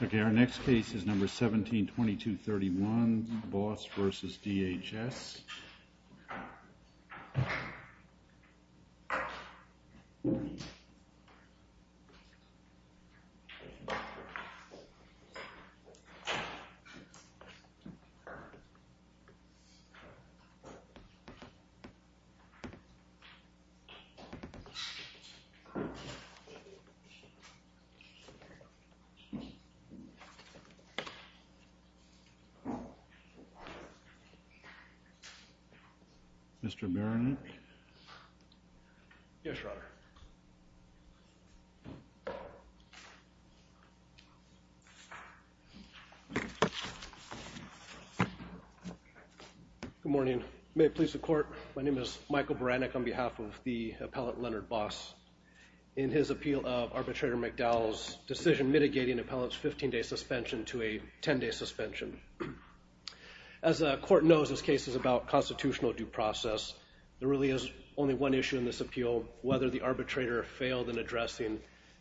Okay, our next case is number 172231, Boss v. DHS. Mr. Baranek? Yes, Your Honor. Good morning. May it please the court, my name is Michael Baranek on behalf of the appellate Leonard Boss, in his appeal of Arbitrator McDowell's decision mitigating appellate's 15-day suspension to a 10-day suspension. As the court knows, this case is about constitutional due process. There really is only one issue in this appeal, whether the arbitrator failed in addressing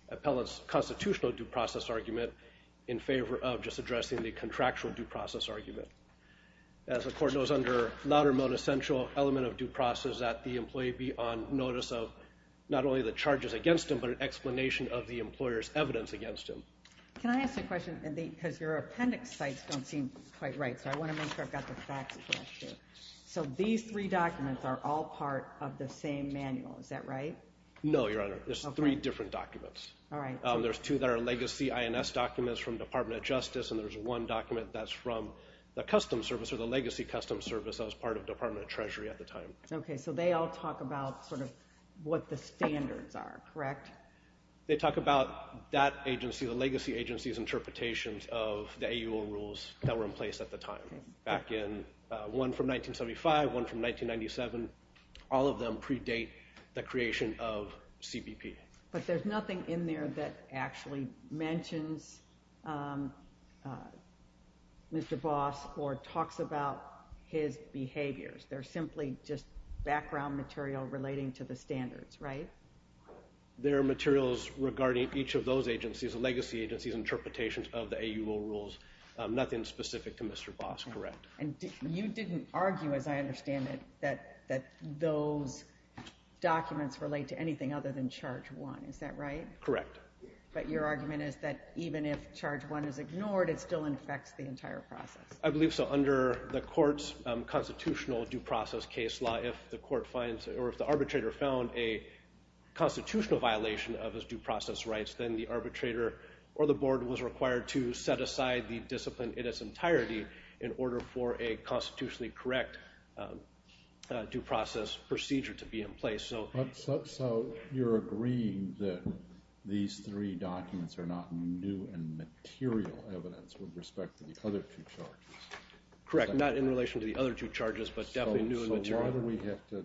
appellate's constitutional due process argument in favor of just addressing the contractual due process argument. As the court knows, under laudamode essential element of due process, that the employee be on notice of not only the charges against him, but an explanation of the employer's evidence against him. Can I ask a question, because your appendix sites don't seem quite right, so I want to make sure I've got the facts correct here. So these three documents are all part of the same manual, is that right? No, Your Honor, there's three different documents. All right. There's two that are legacy INS documents from Department of Justice, and there's one document that's from the Customs Service or the legacy Customs Service that was Department of Treasury at the time. Okay, so they all talk about sort of what the standards are, correct? They talk about that agency, the legacy agency's interpretations of the AUL rules that were in place at the time. Back in one from 1975, one from 1997, all of them predate the creation of CBP. But there's nothing in there that actually mentions Mr. Boss or talks about his behavior They're simply just background material relating to the standards, right? They're materials regarding each of those agencies, the legacy agency's interpretations of the AUL rules, nothing specific to Mr. Boss, correct. And you didn't argue, as I understand it, that those documents relate to anything other than Charge 1, is that right? Correct. But your argument is that even if the arbitrator found a constitutional violation of his due process rights, then the arbitrator or the board was required to set aside the discipline in its entirety in order for a constitutionally correct due process procedure to be in place. So you're agreeing that these three documents are not new and material evidence with respect to the other two charges? Correct, not in relation to the other two charges, but definitely new and material. So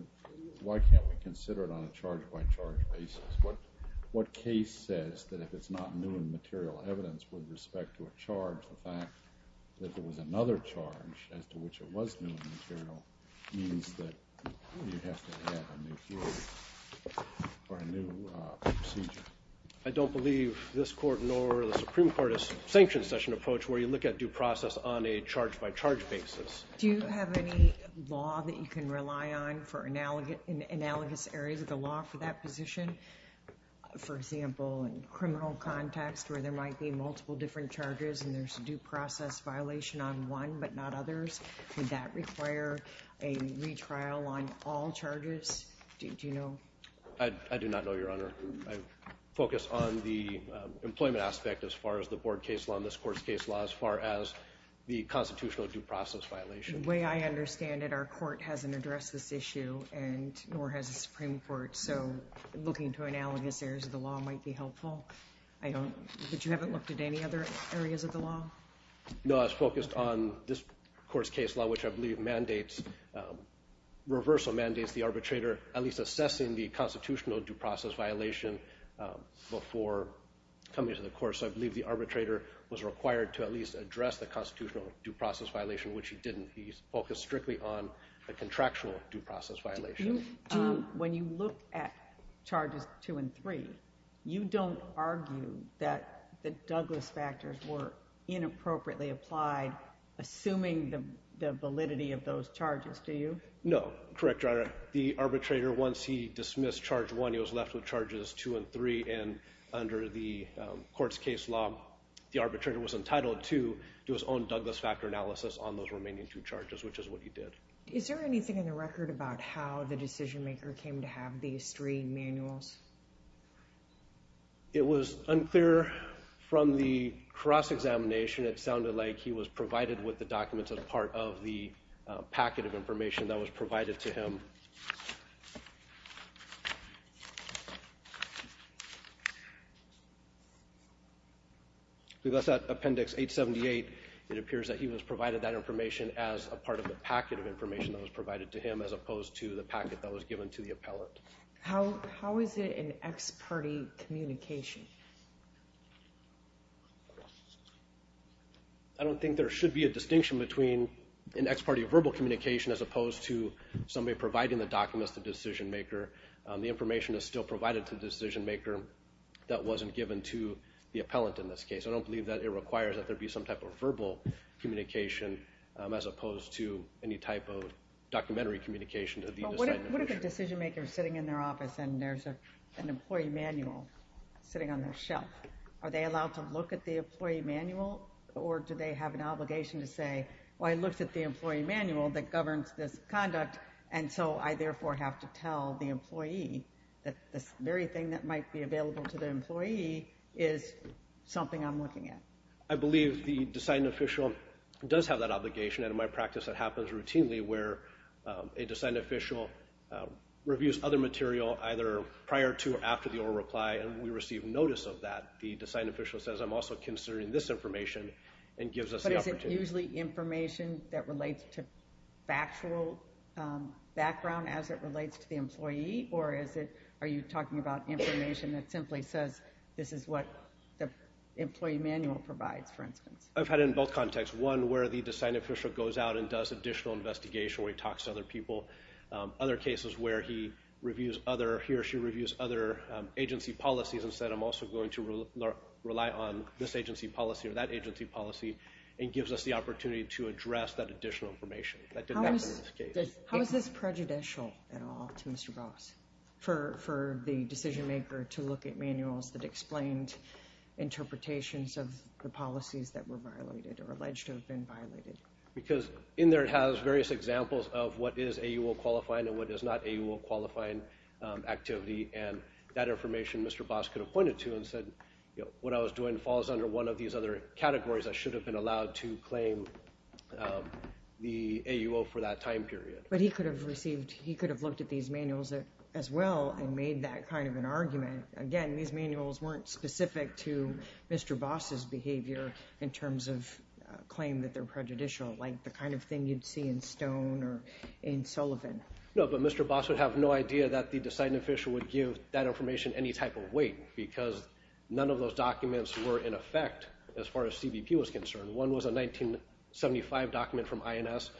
why can't we consider it on a charge-by-charge basis? What case says that if it's not new and material evidence with respect to a charge, the fact that there was another charge as to which it was new and material means that you have to have a new rule or a new procedure? I don't believe this Court nor the Supreme Court has sanctioned such an approach where you look at due process on a charge-by-charge basis. Do you have any law that you can rely on for analogous areas of the law for that position? For example, in criminal context where there might be multiple different charges and there's a due process violation on one but not others, would that require a retrial on all charges? I do not know, Your Honor. I focus on the employment aspect as far as the Board case law and this Court's case law as far as the constitutional due process violation. The way I understand it, our Court hasn't addressed this issue and nor has the Supreme Court, so looking to analogous areas of the law might be helpful. But you haven't looked at any other areas of the law? No, I was focused on this Court's case law, which I believe mandates, reversal mandates the arbitrator at least assessing the constitutional due process violation before coming to the Court. So I believe the arbitrator was required to at least address the constitutional due process violation, which he didn't. He focused strictly on the contractual due process violation. When you look at charges two and three, you don't argue that the Douglas factors were inappropriately applied, assuming the validity of those charges, do you? No, correct, Your Honor. The arbitrator, once he dismissed charge one, he was left with charges two and three, and under the Court's case law, the arbitrator was entitled to do his own Douglas factor analysis on those remaining two charges, which is what he did. Is there anything in the record about how the decision maker came to have these three manuals? It was unclear from the cross-examination. It sounded like he was provided with the documents as part of the packet of information that was provided to him. If you look at Appendix 878, it appears that he was provided that information as a part of the packet of information that was provided to him, as opposed to the packet that was given to the appellant. How is it in ex parte communication? I don't think there should be a distinction between an ex parte verbal communication as opposed to somebody providing the documents to the decision maker. The information is still provided to the decision maker that wasn't given to the appellant in this case. I don't believe that it requires that there be some type of verbal communication as opposed to any type of documentary communication. What if a decision maker is sitting in their office and there's an employee manual sitting on their shelf? Are they allowed to look at the employee manual, or do they have an obligation to say, well, I looked at the employee manual that governs this conduct, and so I therefore have to tell the employee that this very thing that might be available to the employee is something I'm looking at? I believe the deciding official does have that obligation, and in my practice it happens routinely where a deciding official reviews other material, either prior to or after the oral reply, and we receive notice of that. The deciding official says, I'm also considering this information, and gives us the opportunity. Is it usually information that relates to factual background as it relates to the employee, or are you talking about information that simply says this is what the employee manual provides, for instance? I've had it in both contexts. One where the deciding official goes out and does additional investigation, where he talks to other people. Other cases where he or she reviews other agency policies and said, I'm also going to rely on this agency policy or that agency policy, and gives us the opportunity to address that additional information. How is this prejudicial at all to Mr. Gross, for the decision maker to look at manuals that explained interpretations of the policies that were violated or alleged to have been violated? Because in there it has various examples of what is AUO qualifying and what is not AUO qualifying activity, and that information Mr. Boss could have pointed to and said, what I was doing falls under one of these other categories. I should have been allowed to claim the AUO for that time period. But he could have looked at these manuals as well and made that kind of an argument. Again, these manuals weren't specific to Mr. Boss' behavior in terms of claim that they're prejudicial, like the kind of thing you'd see in Stone or in Sullivan. No, but Mr. Boss would have no idea that the deciding official would give that information any type of weight, because none of those documents were in effect as far as CBP was concerned. One was a 1975 document from INS,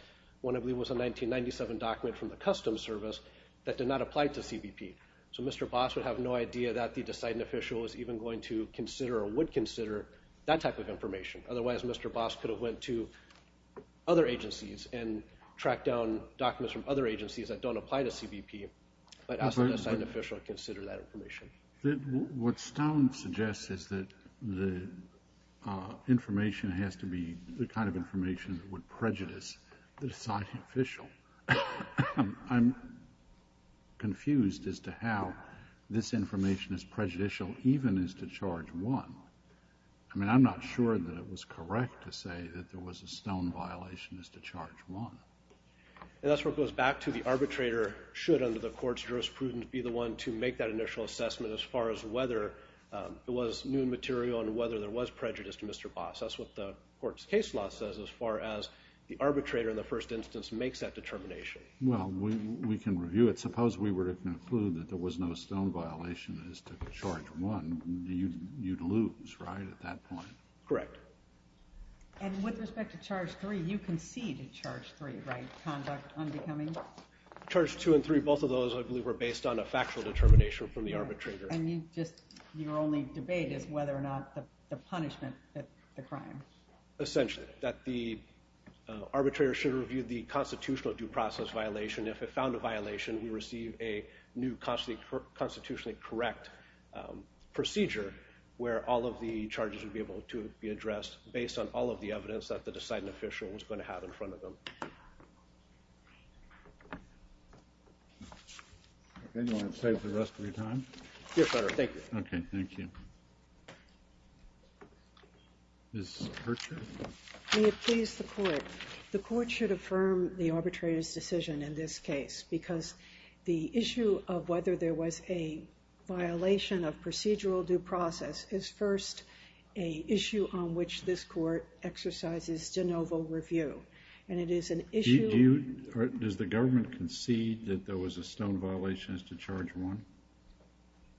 one I believe was a 1997 document from the Customs Service that did not apply to CBP. So Mr. Boss would have no idea that the deciding official is even going to consider or would consider that type of information. Otherwise, Mr. Boss could have went to other agencies and tracked down documents from other agencies that don't apply to CBP, but asked the deciding official to consider that information. What Stone suggests is that the information has to be the kind of information that would prejudice the deciding official. I'm confused as to how this information is prejudicial even as to Charge 1. I mean, I'm not sure that it was correct to say that there was a Stone violation as to Charge 1. And that's what goes back to the arbitrator should, under the Court's jurisprudence, be the one to make that initial assessment as far as whether it was new material and whether there was prejudice to Mr. Boss. That's what the Court's case law says as far as the arbitrator in the first instance makes that determination. Well, we can review it. Suppose we were to conclude that there was no Stone violation as to Charge 1. You'd lose, right, at that point? Correct. And with respect to Charge 3, you conceded Charge 3, right, conduct unbecoming? Charge 2 and 3, both of those, I believe, were based on a factual determination from the arbitrator. And you just, your only debate is whether or not the punishment, the crime. Essentially, that the arbitrator should review the constitutional due process violation. If it found a violation, you receive a new constitutionally correct procedure where all of the charges would be able to be addressed based on all of the evidence that the deciding official was going to have in front of them. Anyone want to save the rest of your time? Yes, Your Honor, thank you. Okay, thank you. Ms. Hertscher? May it please the Court. The Court should affirm the arbitrator's decision in this case because the issue of whether there was a violation of procedural due process is first an issue on which this Court exercises de novo review. And it is an issue... Does the government concede that there was a Stone violation as to Charge 1?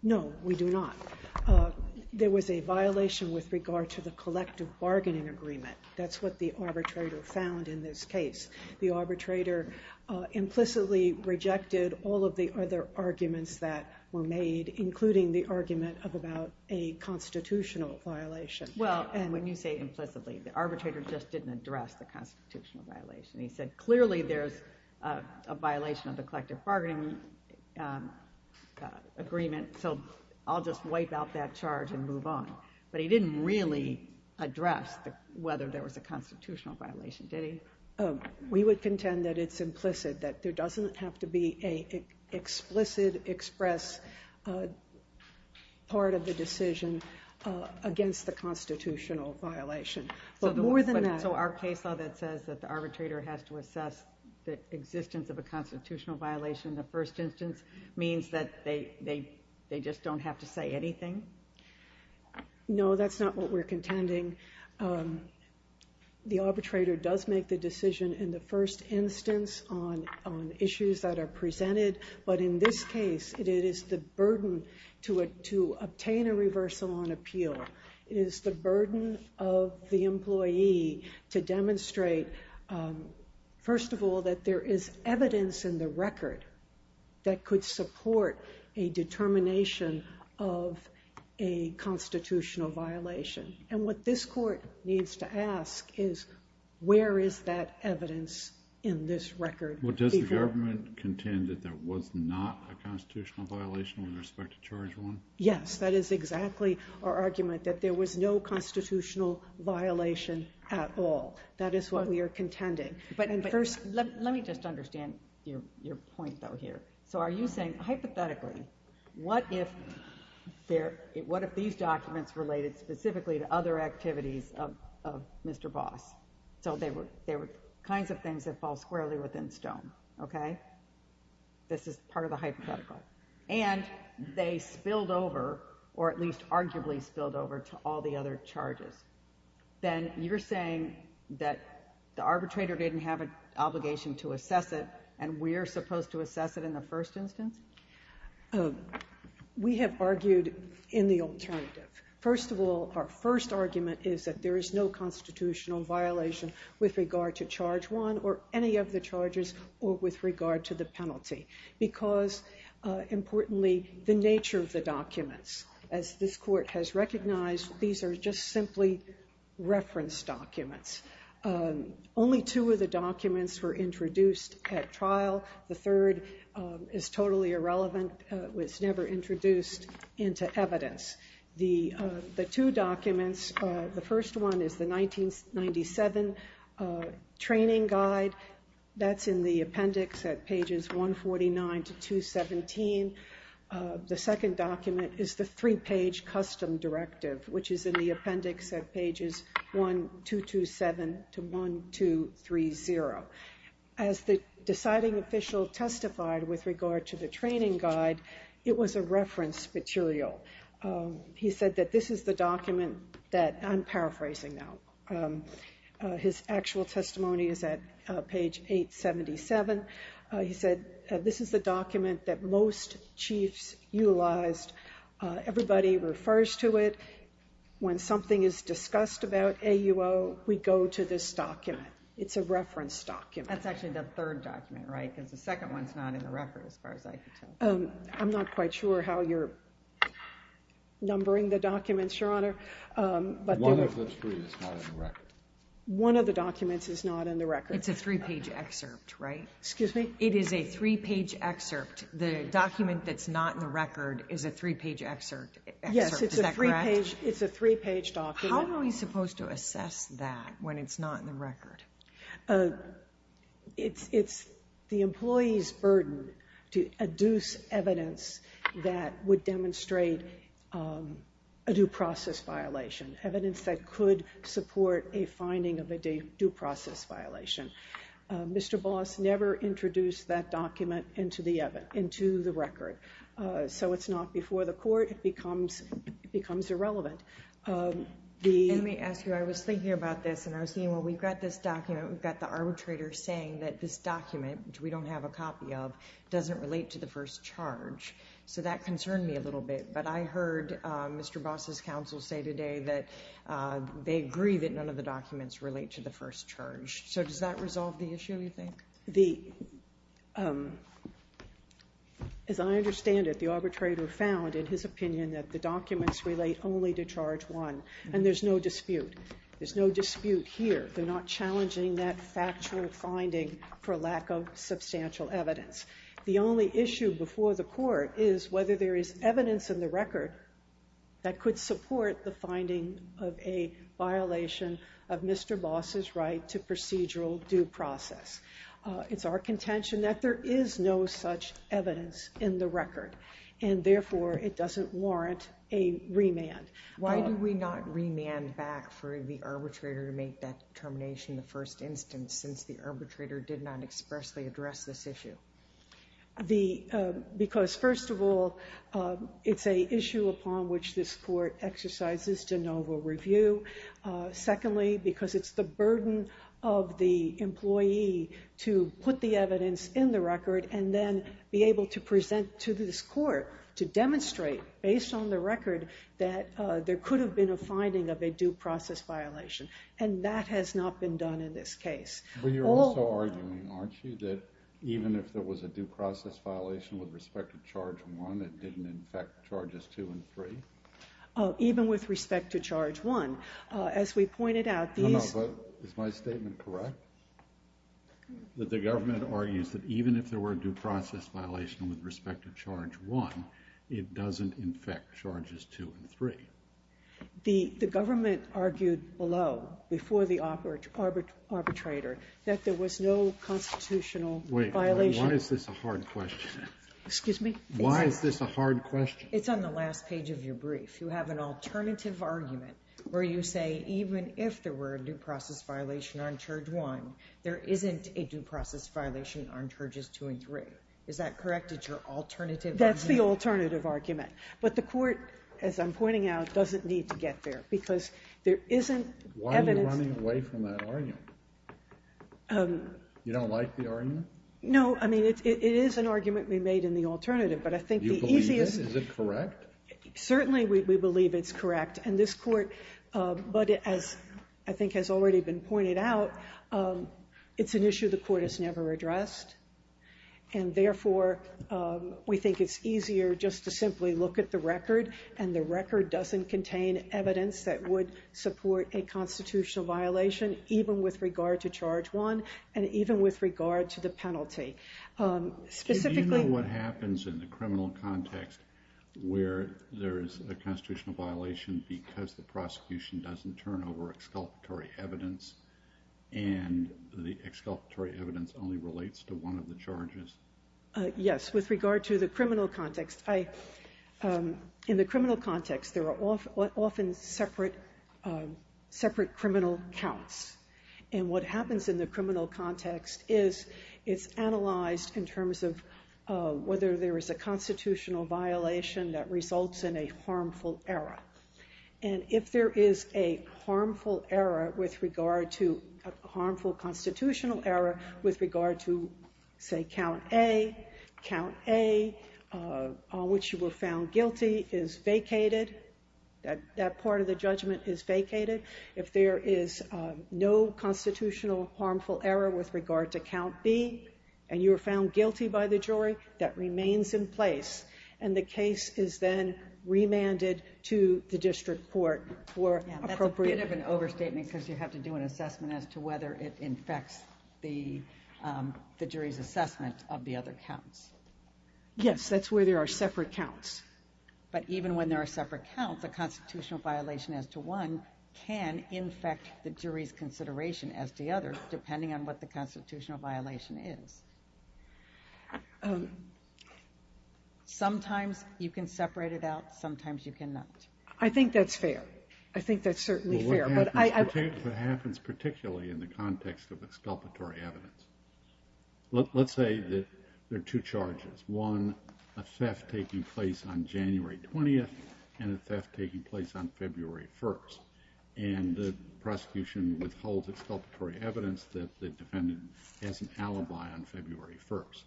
No, we do not. There was a violation with regard to the collective bargaining agreement. That's what the arbitrator found in this case. The arbitrator implicitly rejected all of the other arguments that were made, including the argument about a constitutional violation. Well, and when you say implicitly, the arbitrator just didn't address the constitutional violation. He said, clearly there's a violation of the collective bargaining agreement, so I'll just wipe out that charge and move on. But he didn't really address whether there was a constitutional violation, did he? We would contend that it's implicit, that there doesn't have to be an explicit express part of the decision against the constitutional violation. But more than that... So our case law that says that the arbitrator has to assess the existence of a constitutional violation in the first instance means that they just don't have to say anything? No, that's not what we're contending. The arbitrator does make the decision in the first instance on issues that are presented. But in this case, it is the burden to obtain a reversal on appeal. It is the burden of the employee to demonstrate, first of all, that there is evidence in the record that could support a determination of a constitutional violation. And what this court needs to ask is, where is that evidence in this record? Well, does the government contend that there was not a constitutional violation with respect to charge one? Yes, that is exactly our argument, that there was no constitutional violation at all. That is what we are contending. But first, let me just understand your point, though, here. So are you saying, hypothetically, what if these documents related specifically to other activities of Mr. Voss? So there were kinds of things that fall squarely within stone, okay? This is part of the hypothetical. And they spilled over, or at least arguably spilled over, to all the other charges. Then you're saying that the arbitrator didn't have an obligation to assess it, and we're supposed to assess it in the first instance? We have argued in the alternative. First of all, our first argument is that there is no constitutional violation with regard to charge one or any of the charges or with regard to the penalty. Because, importantly, the nature of the documents, as this court has recognized, these are just simply reference documents. Only two of the documents were introduced at trial. The third is totally irrelevant, was never introduced into evidence. The two documents, the first one is the 1997 training guide. That's in the appendix at pages 149 to 217. The second document is the three-page custom directive, which is in the appendix at pages 1227 to 1230. As the deciding official testified with regard to the training guide, it was a reference material. He said that this is the document that, I'm paraphrasing now, his actual testimony is at page 877. He said this is the document that most chiefs utilized. Everybody refers to it. When something is discussed about AUO, we go to this document. It's a reference document. That's actually the third document, right? Because the second one's not in the record, as far as I can tell. I'm not quite sure how you're numbering the documents, Your Honor. One of the three is not in the record. One of the documents is not in the record. It's a three-page excerpt, right? Excuse me? It is a three-page excerpt. The document that's not in the record is a three-page excerpt, is that correct? Yes, it's a three-page document. How are we supposed to assess that when it's not in the record? It's the employee's burden to adduce evidence that would demonstrate a due process violation, evidence that could support a finding of a due process violation. Mr. Boss never introduced that document into the record, so it's not before the court. It becomes irrelevant. Let me ask you, I was thinking about this, and I was thinking, well, we've got this document, we've got the arbitrator saying that this document, which we don't have a copy of, doesn't relate to the first charge. So that concerned me a little bit, but I heard Mr. Boss' counsel say today that they agree that none of the documents relate to the first charge. So does that resolve the issue, you think? As I understand it, the arbitrator found, in his opinion, that the documents relate only to charge one, and there's no dispute. There's no dispute here. They're not challenging that factual finding for lack of substantial evidence. The only issue before the court is whether there is evidence in the record that could support the finding of a violation of Mr. Boss' right to procedural due process. It's our contention that there is no such evidence in the record, and therefore it doesn't warrant a remand. Why do we not remand back for the arbitrator to make that termination the first instance since the arbitrator did not expressly address this issue? Because, first of all, it's an issue upon which this court exercises de novo review. Secondly, because it's the burden of the employee to put the evidence in the record and then be able to present to this court to demonstrate, based on the record, that there could have been a finding of a due process violation. And that has not been done in this case. But you're also arguing, aren't you, that even if there was a due process violation with respect to charge one, it didn't infect charges two and three? Even with respect to charge one. As we pointed out, these... No, no, but is my statement correct? That the government argues that even if there were a due process violation with respect to charge one, it doesn't infect charges two and three? The government argued below, before the arbitrator, that there was no constitutional violation. Wait, why is this a hard question? Excuse me? Why is this a hard question? It's on the last page of your brief. You have an alternative argument where you say, even if there were a due process violation on charge one, there isn't a due process violation on charges two and three. Is that correct? It's your alternative argument? That's the alternative argument. But the Court, as I'm pointing out, doesn't need to get there. Because there isn't evidence... Why are you running away from that argument? You don't like the argument? No, I mean, it is an argument we made in the alternative. But I think the easiest... Do you believe this? Is it correct? Certainly we believe it's correct. And this Court, but as I think has already been pointed out, it's an issue the Court has never addressed. And therefore, we think it's easier just to simply look at the record, and the record doesn't contain evidence that would support a constitutional violation, even with regard to charge one and even with regard to the penalty. Specifically... Do you know what happens in the criminal context where there is a constitutional violation because the prosecution doesn't turn over exculpatory evidence and the exculpatory evidence only relates to one of the charges? Yes, with regard to the criminal context. In the criminal context, there are often separate criminal counts. And what happens in the criminal context is it's analyzed in terms of whether there is a constitutional violation that results in a harmful error. And if there is a harmful constitutional error with regard to, say, count A, count A, on which you were found guilty, is vacated. That part of the judgment is vacated. If there is no constitutional harmful error with regard to count B and you were found guilty by the jury, that remains in place. And the case is then remanded to the district court for appropriate... Yeah, that's a bit of an overstatement because you have to do an assessment as to whether it infects the jury's assessment of the other counts. Yes, that's where there are separate counts. But even when there are separate counts, a constitutional violation as to one can infect the jury's consideration as to the other, depending on what the constitutional violation is. Sometimes you can separate it out. Sometimes you cannot. I think that's fair. I think that's certainly fair. Well, what happens particularly in the context of exculpatory evidence? Let's say that there are two charges. One, a theft taking place on January 20th and a theft taking place on February 1st. And the prosecution withholds exculpatory evidence that the defendant has an alibi on February 1st.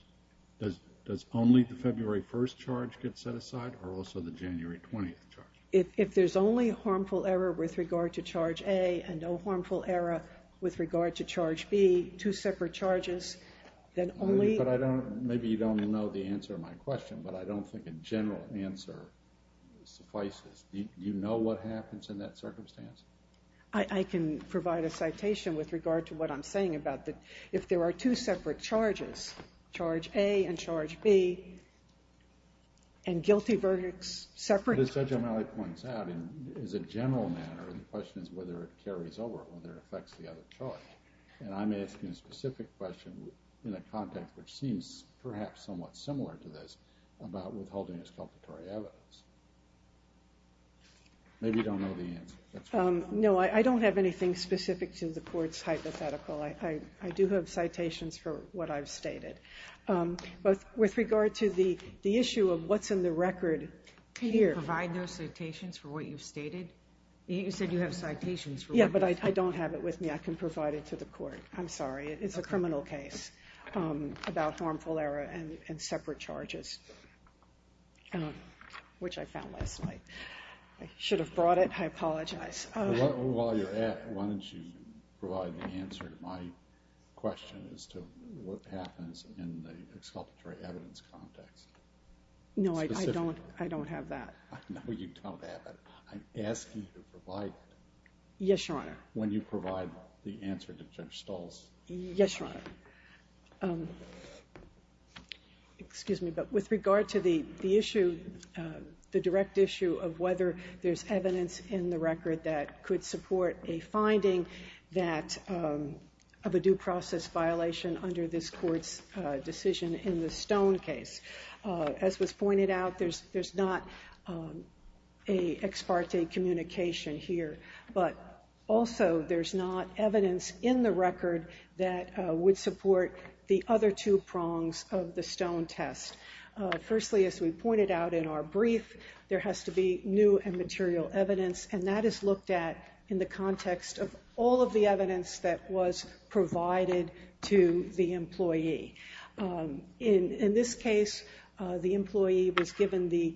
Does only the February 1st charge get set aside or also the January 20th charge? If there's only harmful error with regard to charge A and no harmful error with regard to charge B, two separate charges, then only... Maybe you don't know the answer to my question, but I don't think a general answer suffices. Do you know what happens in that circumstance? I can provide a citation with regard to what I'm saying about that if there are two separate charges, charge A and charge B, and guilty verdicts separate... But as Judge O'Malley points out, in a general manner, the question is whether it carries over or whether it affects the other charge. And I'm asking a specific question in a context which seems perhaps somewhat similar to this about withholding exculpatory evidence. Maybe you don't know the answer. No, I don't have anything specific to the court's hypothetical. I do have citations for what I've stated. But with regard to the issue of what's in the record here... Can you provide those citations for what you've stated? You said you have citations... Yeah, but I don't have it with me. I can provide it to the court. I'm sorry, it's a criminal case about harmful error and separate charges. Which I found last night. I should have brought it. I apologize. While you're at it, why don't you provide the answer to my question as to what happens in the exculpatory evidence context? No, I don't have that. No, you don't have it. I'm asking you to provide it... Yes, Your Honour. Yes, Your Honour. Excuse me, but with regard to the issue, the direct issue of whether there's evidence in the record that could support a finding that... of a due process violation under this court's decision in the Stone case. As was pointed out, there's not an ex parte communication here. But also, there's not evidence in the record that would support the other two prongs of the Stone test. Firstly, as we pointed out in our brief, there has to be new and material evidence, and that is looked at in the context of all of the evidence that was provided to the employee. In this case, the employee was given the...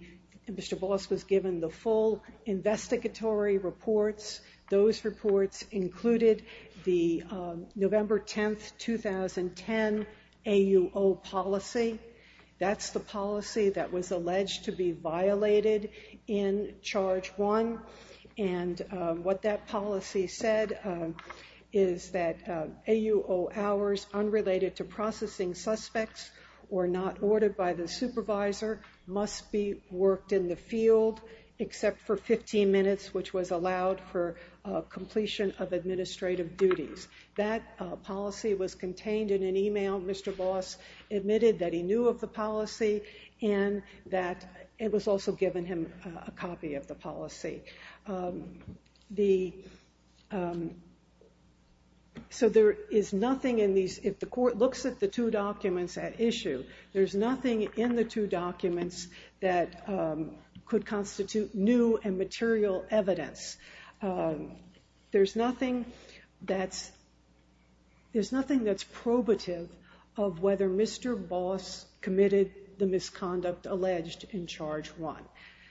Mr Boss was given the full investigatory reports. Those reports included the November 10, 2010, AUO policy. That's the policy that was alleged to be violated in Charge 1. And what that policy said is that AUO hours unrelated to processing suspects or not ordered by the supervisor must be worked in the field except for 15 minutes, which was allowed for completion of administrative duties. That policy was contained in an email. Mr Boss admitted that he knew of the policy and that it was also given him a copy of the policy. So there is nothing in these... If the court looks at the two documents at issue, there's nothing in the two documents that could constitute new and material evidence. There's nothing that's... There's nothing that's probative of whether Mr Boss committed the misconduct alleged in Charge 1.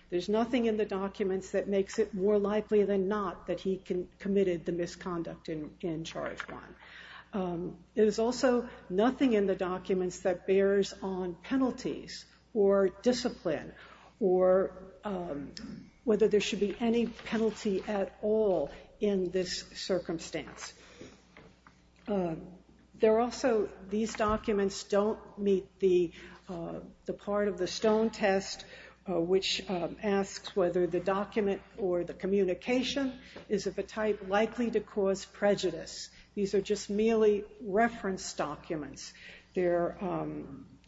There's nothing in the documents that makes it more likely than not that he committed the misconduct in Charge 1. There's also nothing in the documents that bears on penalties or discipline or whether there should be any penalty at all in this circumstance. There are also... These documents don't meet the part of the Stone test which asks whether the document or the communication is of a type likely to cause prejudice. These are just merely reference documents. They're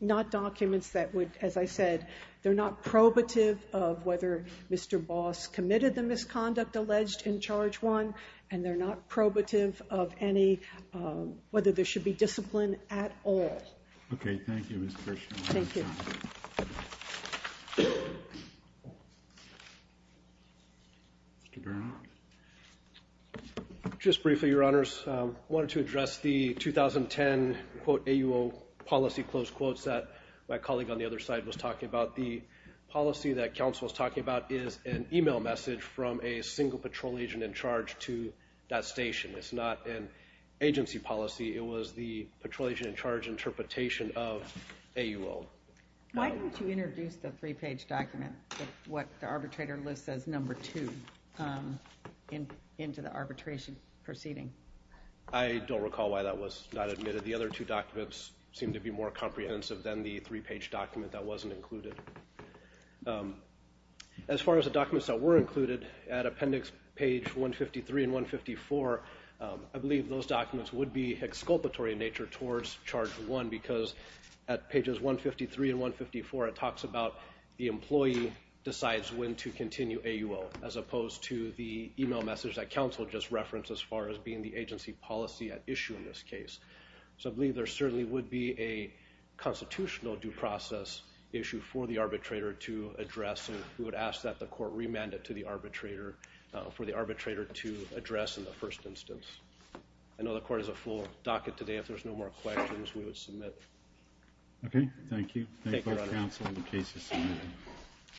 not documents that would... As I said, they're not probative of whether Mr Boss committed the misconduct alleged in Charge 1 and they're not probative of any... whether there should be discipline at all. Okay, thank you, Ms. Kirshner. Mr. Bernoff. Just briefly, Your Honors. I wanted to address the 2010, quote, AUO policy, close quotes that my colleague on the other side was talking about. The policy that counsel was talking about is an email message from a single patrol agent in charge to that station. It's not an agency policy. It was the patrol agent in charge interpretation of AUO. Why don't you introduce the three-page document with what the arbitrator lists as number two into the arbitration proceeding? I don't recall why that was not admitted. The other two documents seem to be more comprehensive than the three-page document that wasn't included. As far as the documents that were included, at appendix page 153 and 154, I believe those documents would be exculpatory in nature towards Charge 1 because at pages 153 and 154 it talks about the employee decides when to continue AUO as opposed to the email message that counsel just referenced as far as being the agency policy at issue in this case. So I believe there certainly would be a constitutional due process issue for the arbitrator to address, and we would ask that the court remand it to the arbitrator for the arbitrator to address in the first instance. I know the court has a full docket today. If there's no more questions, we would submit. Okay. Thank you. Thank you, Your Honor. Thank both counsel and the cases submitted.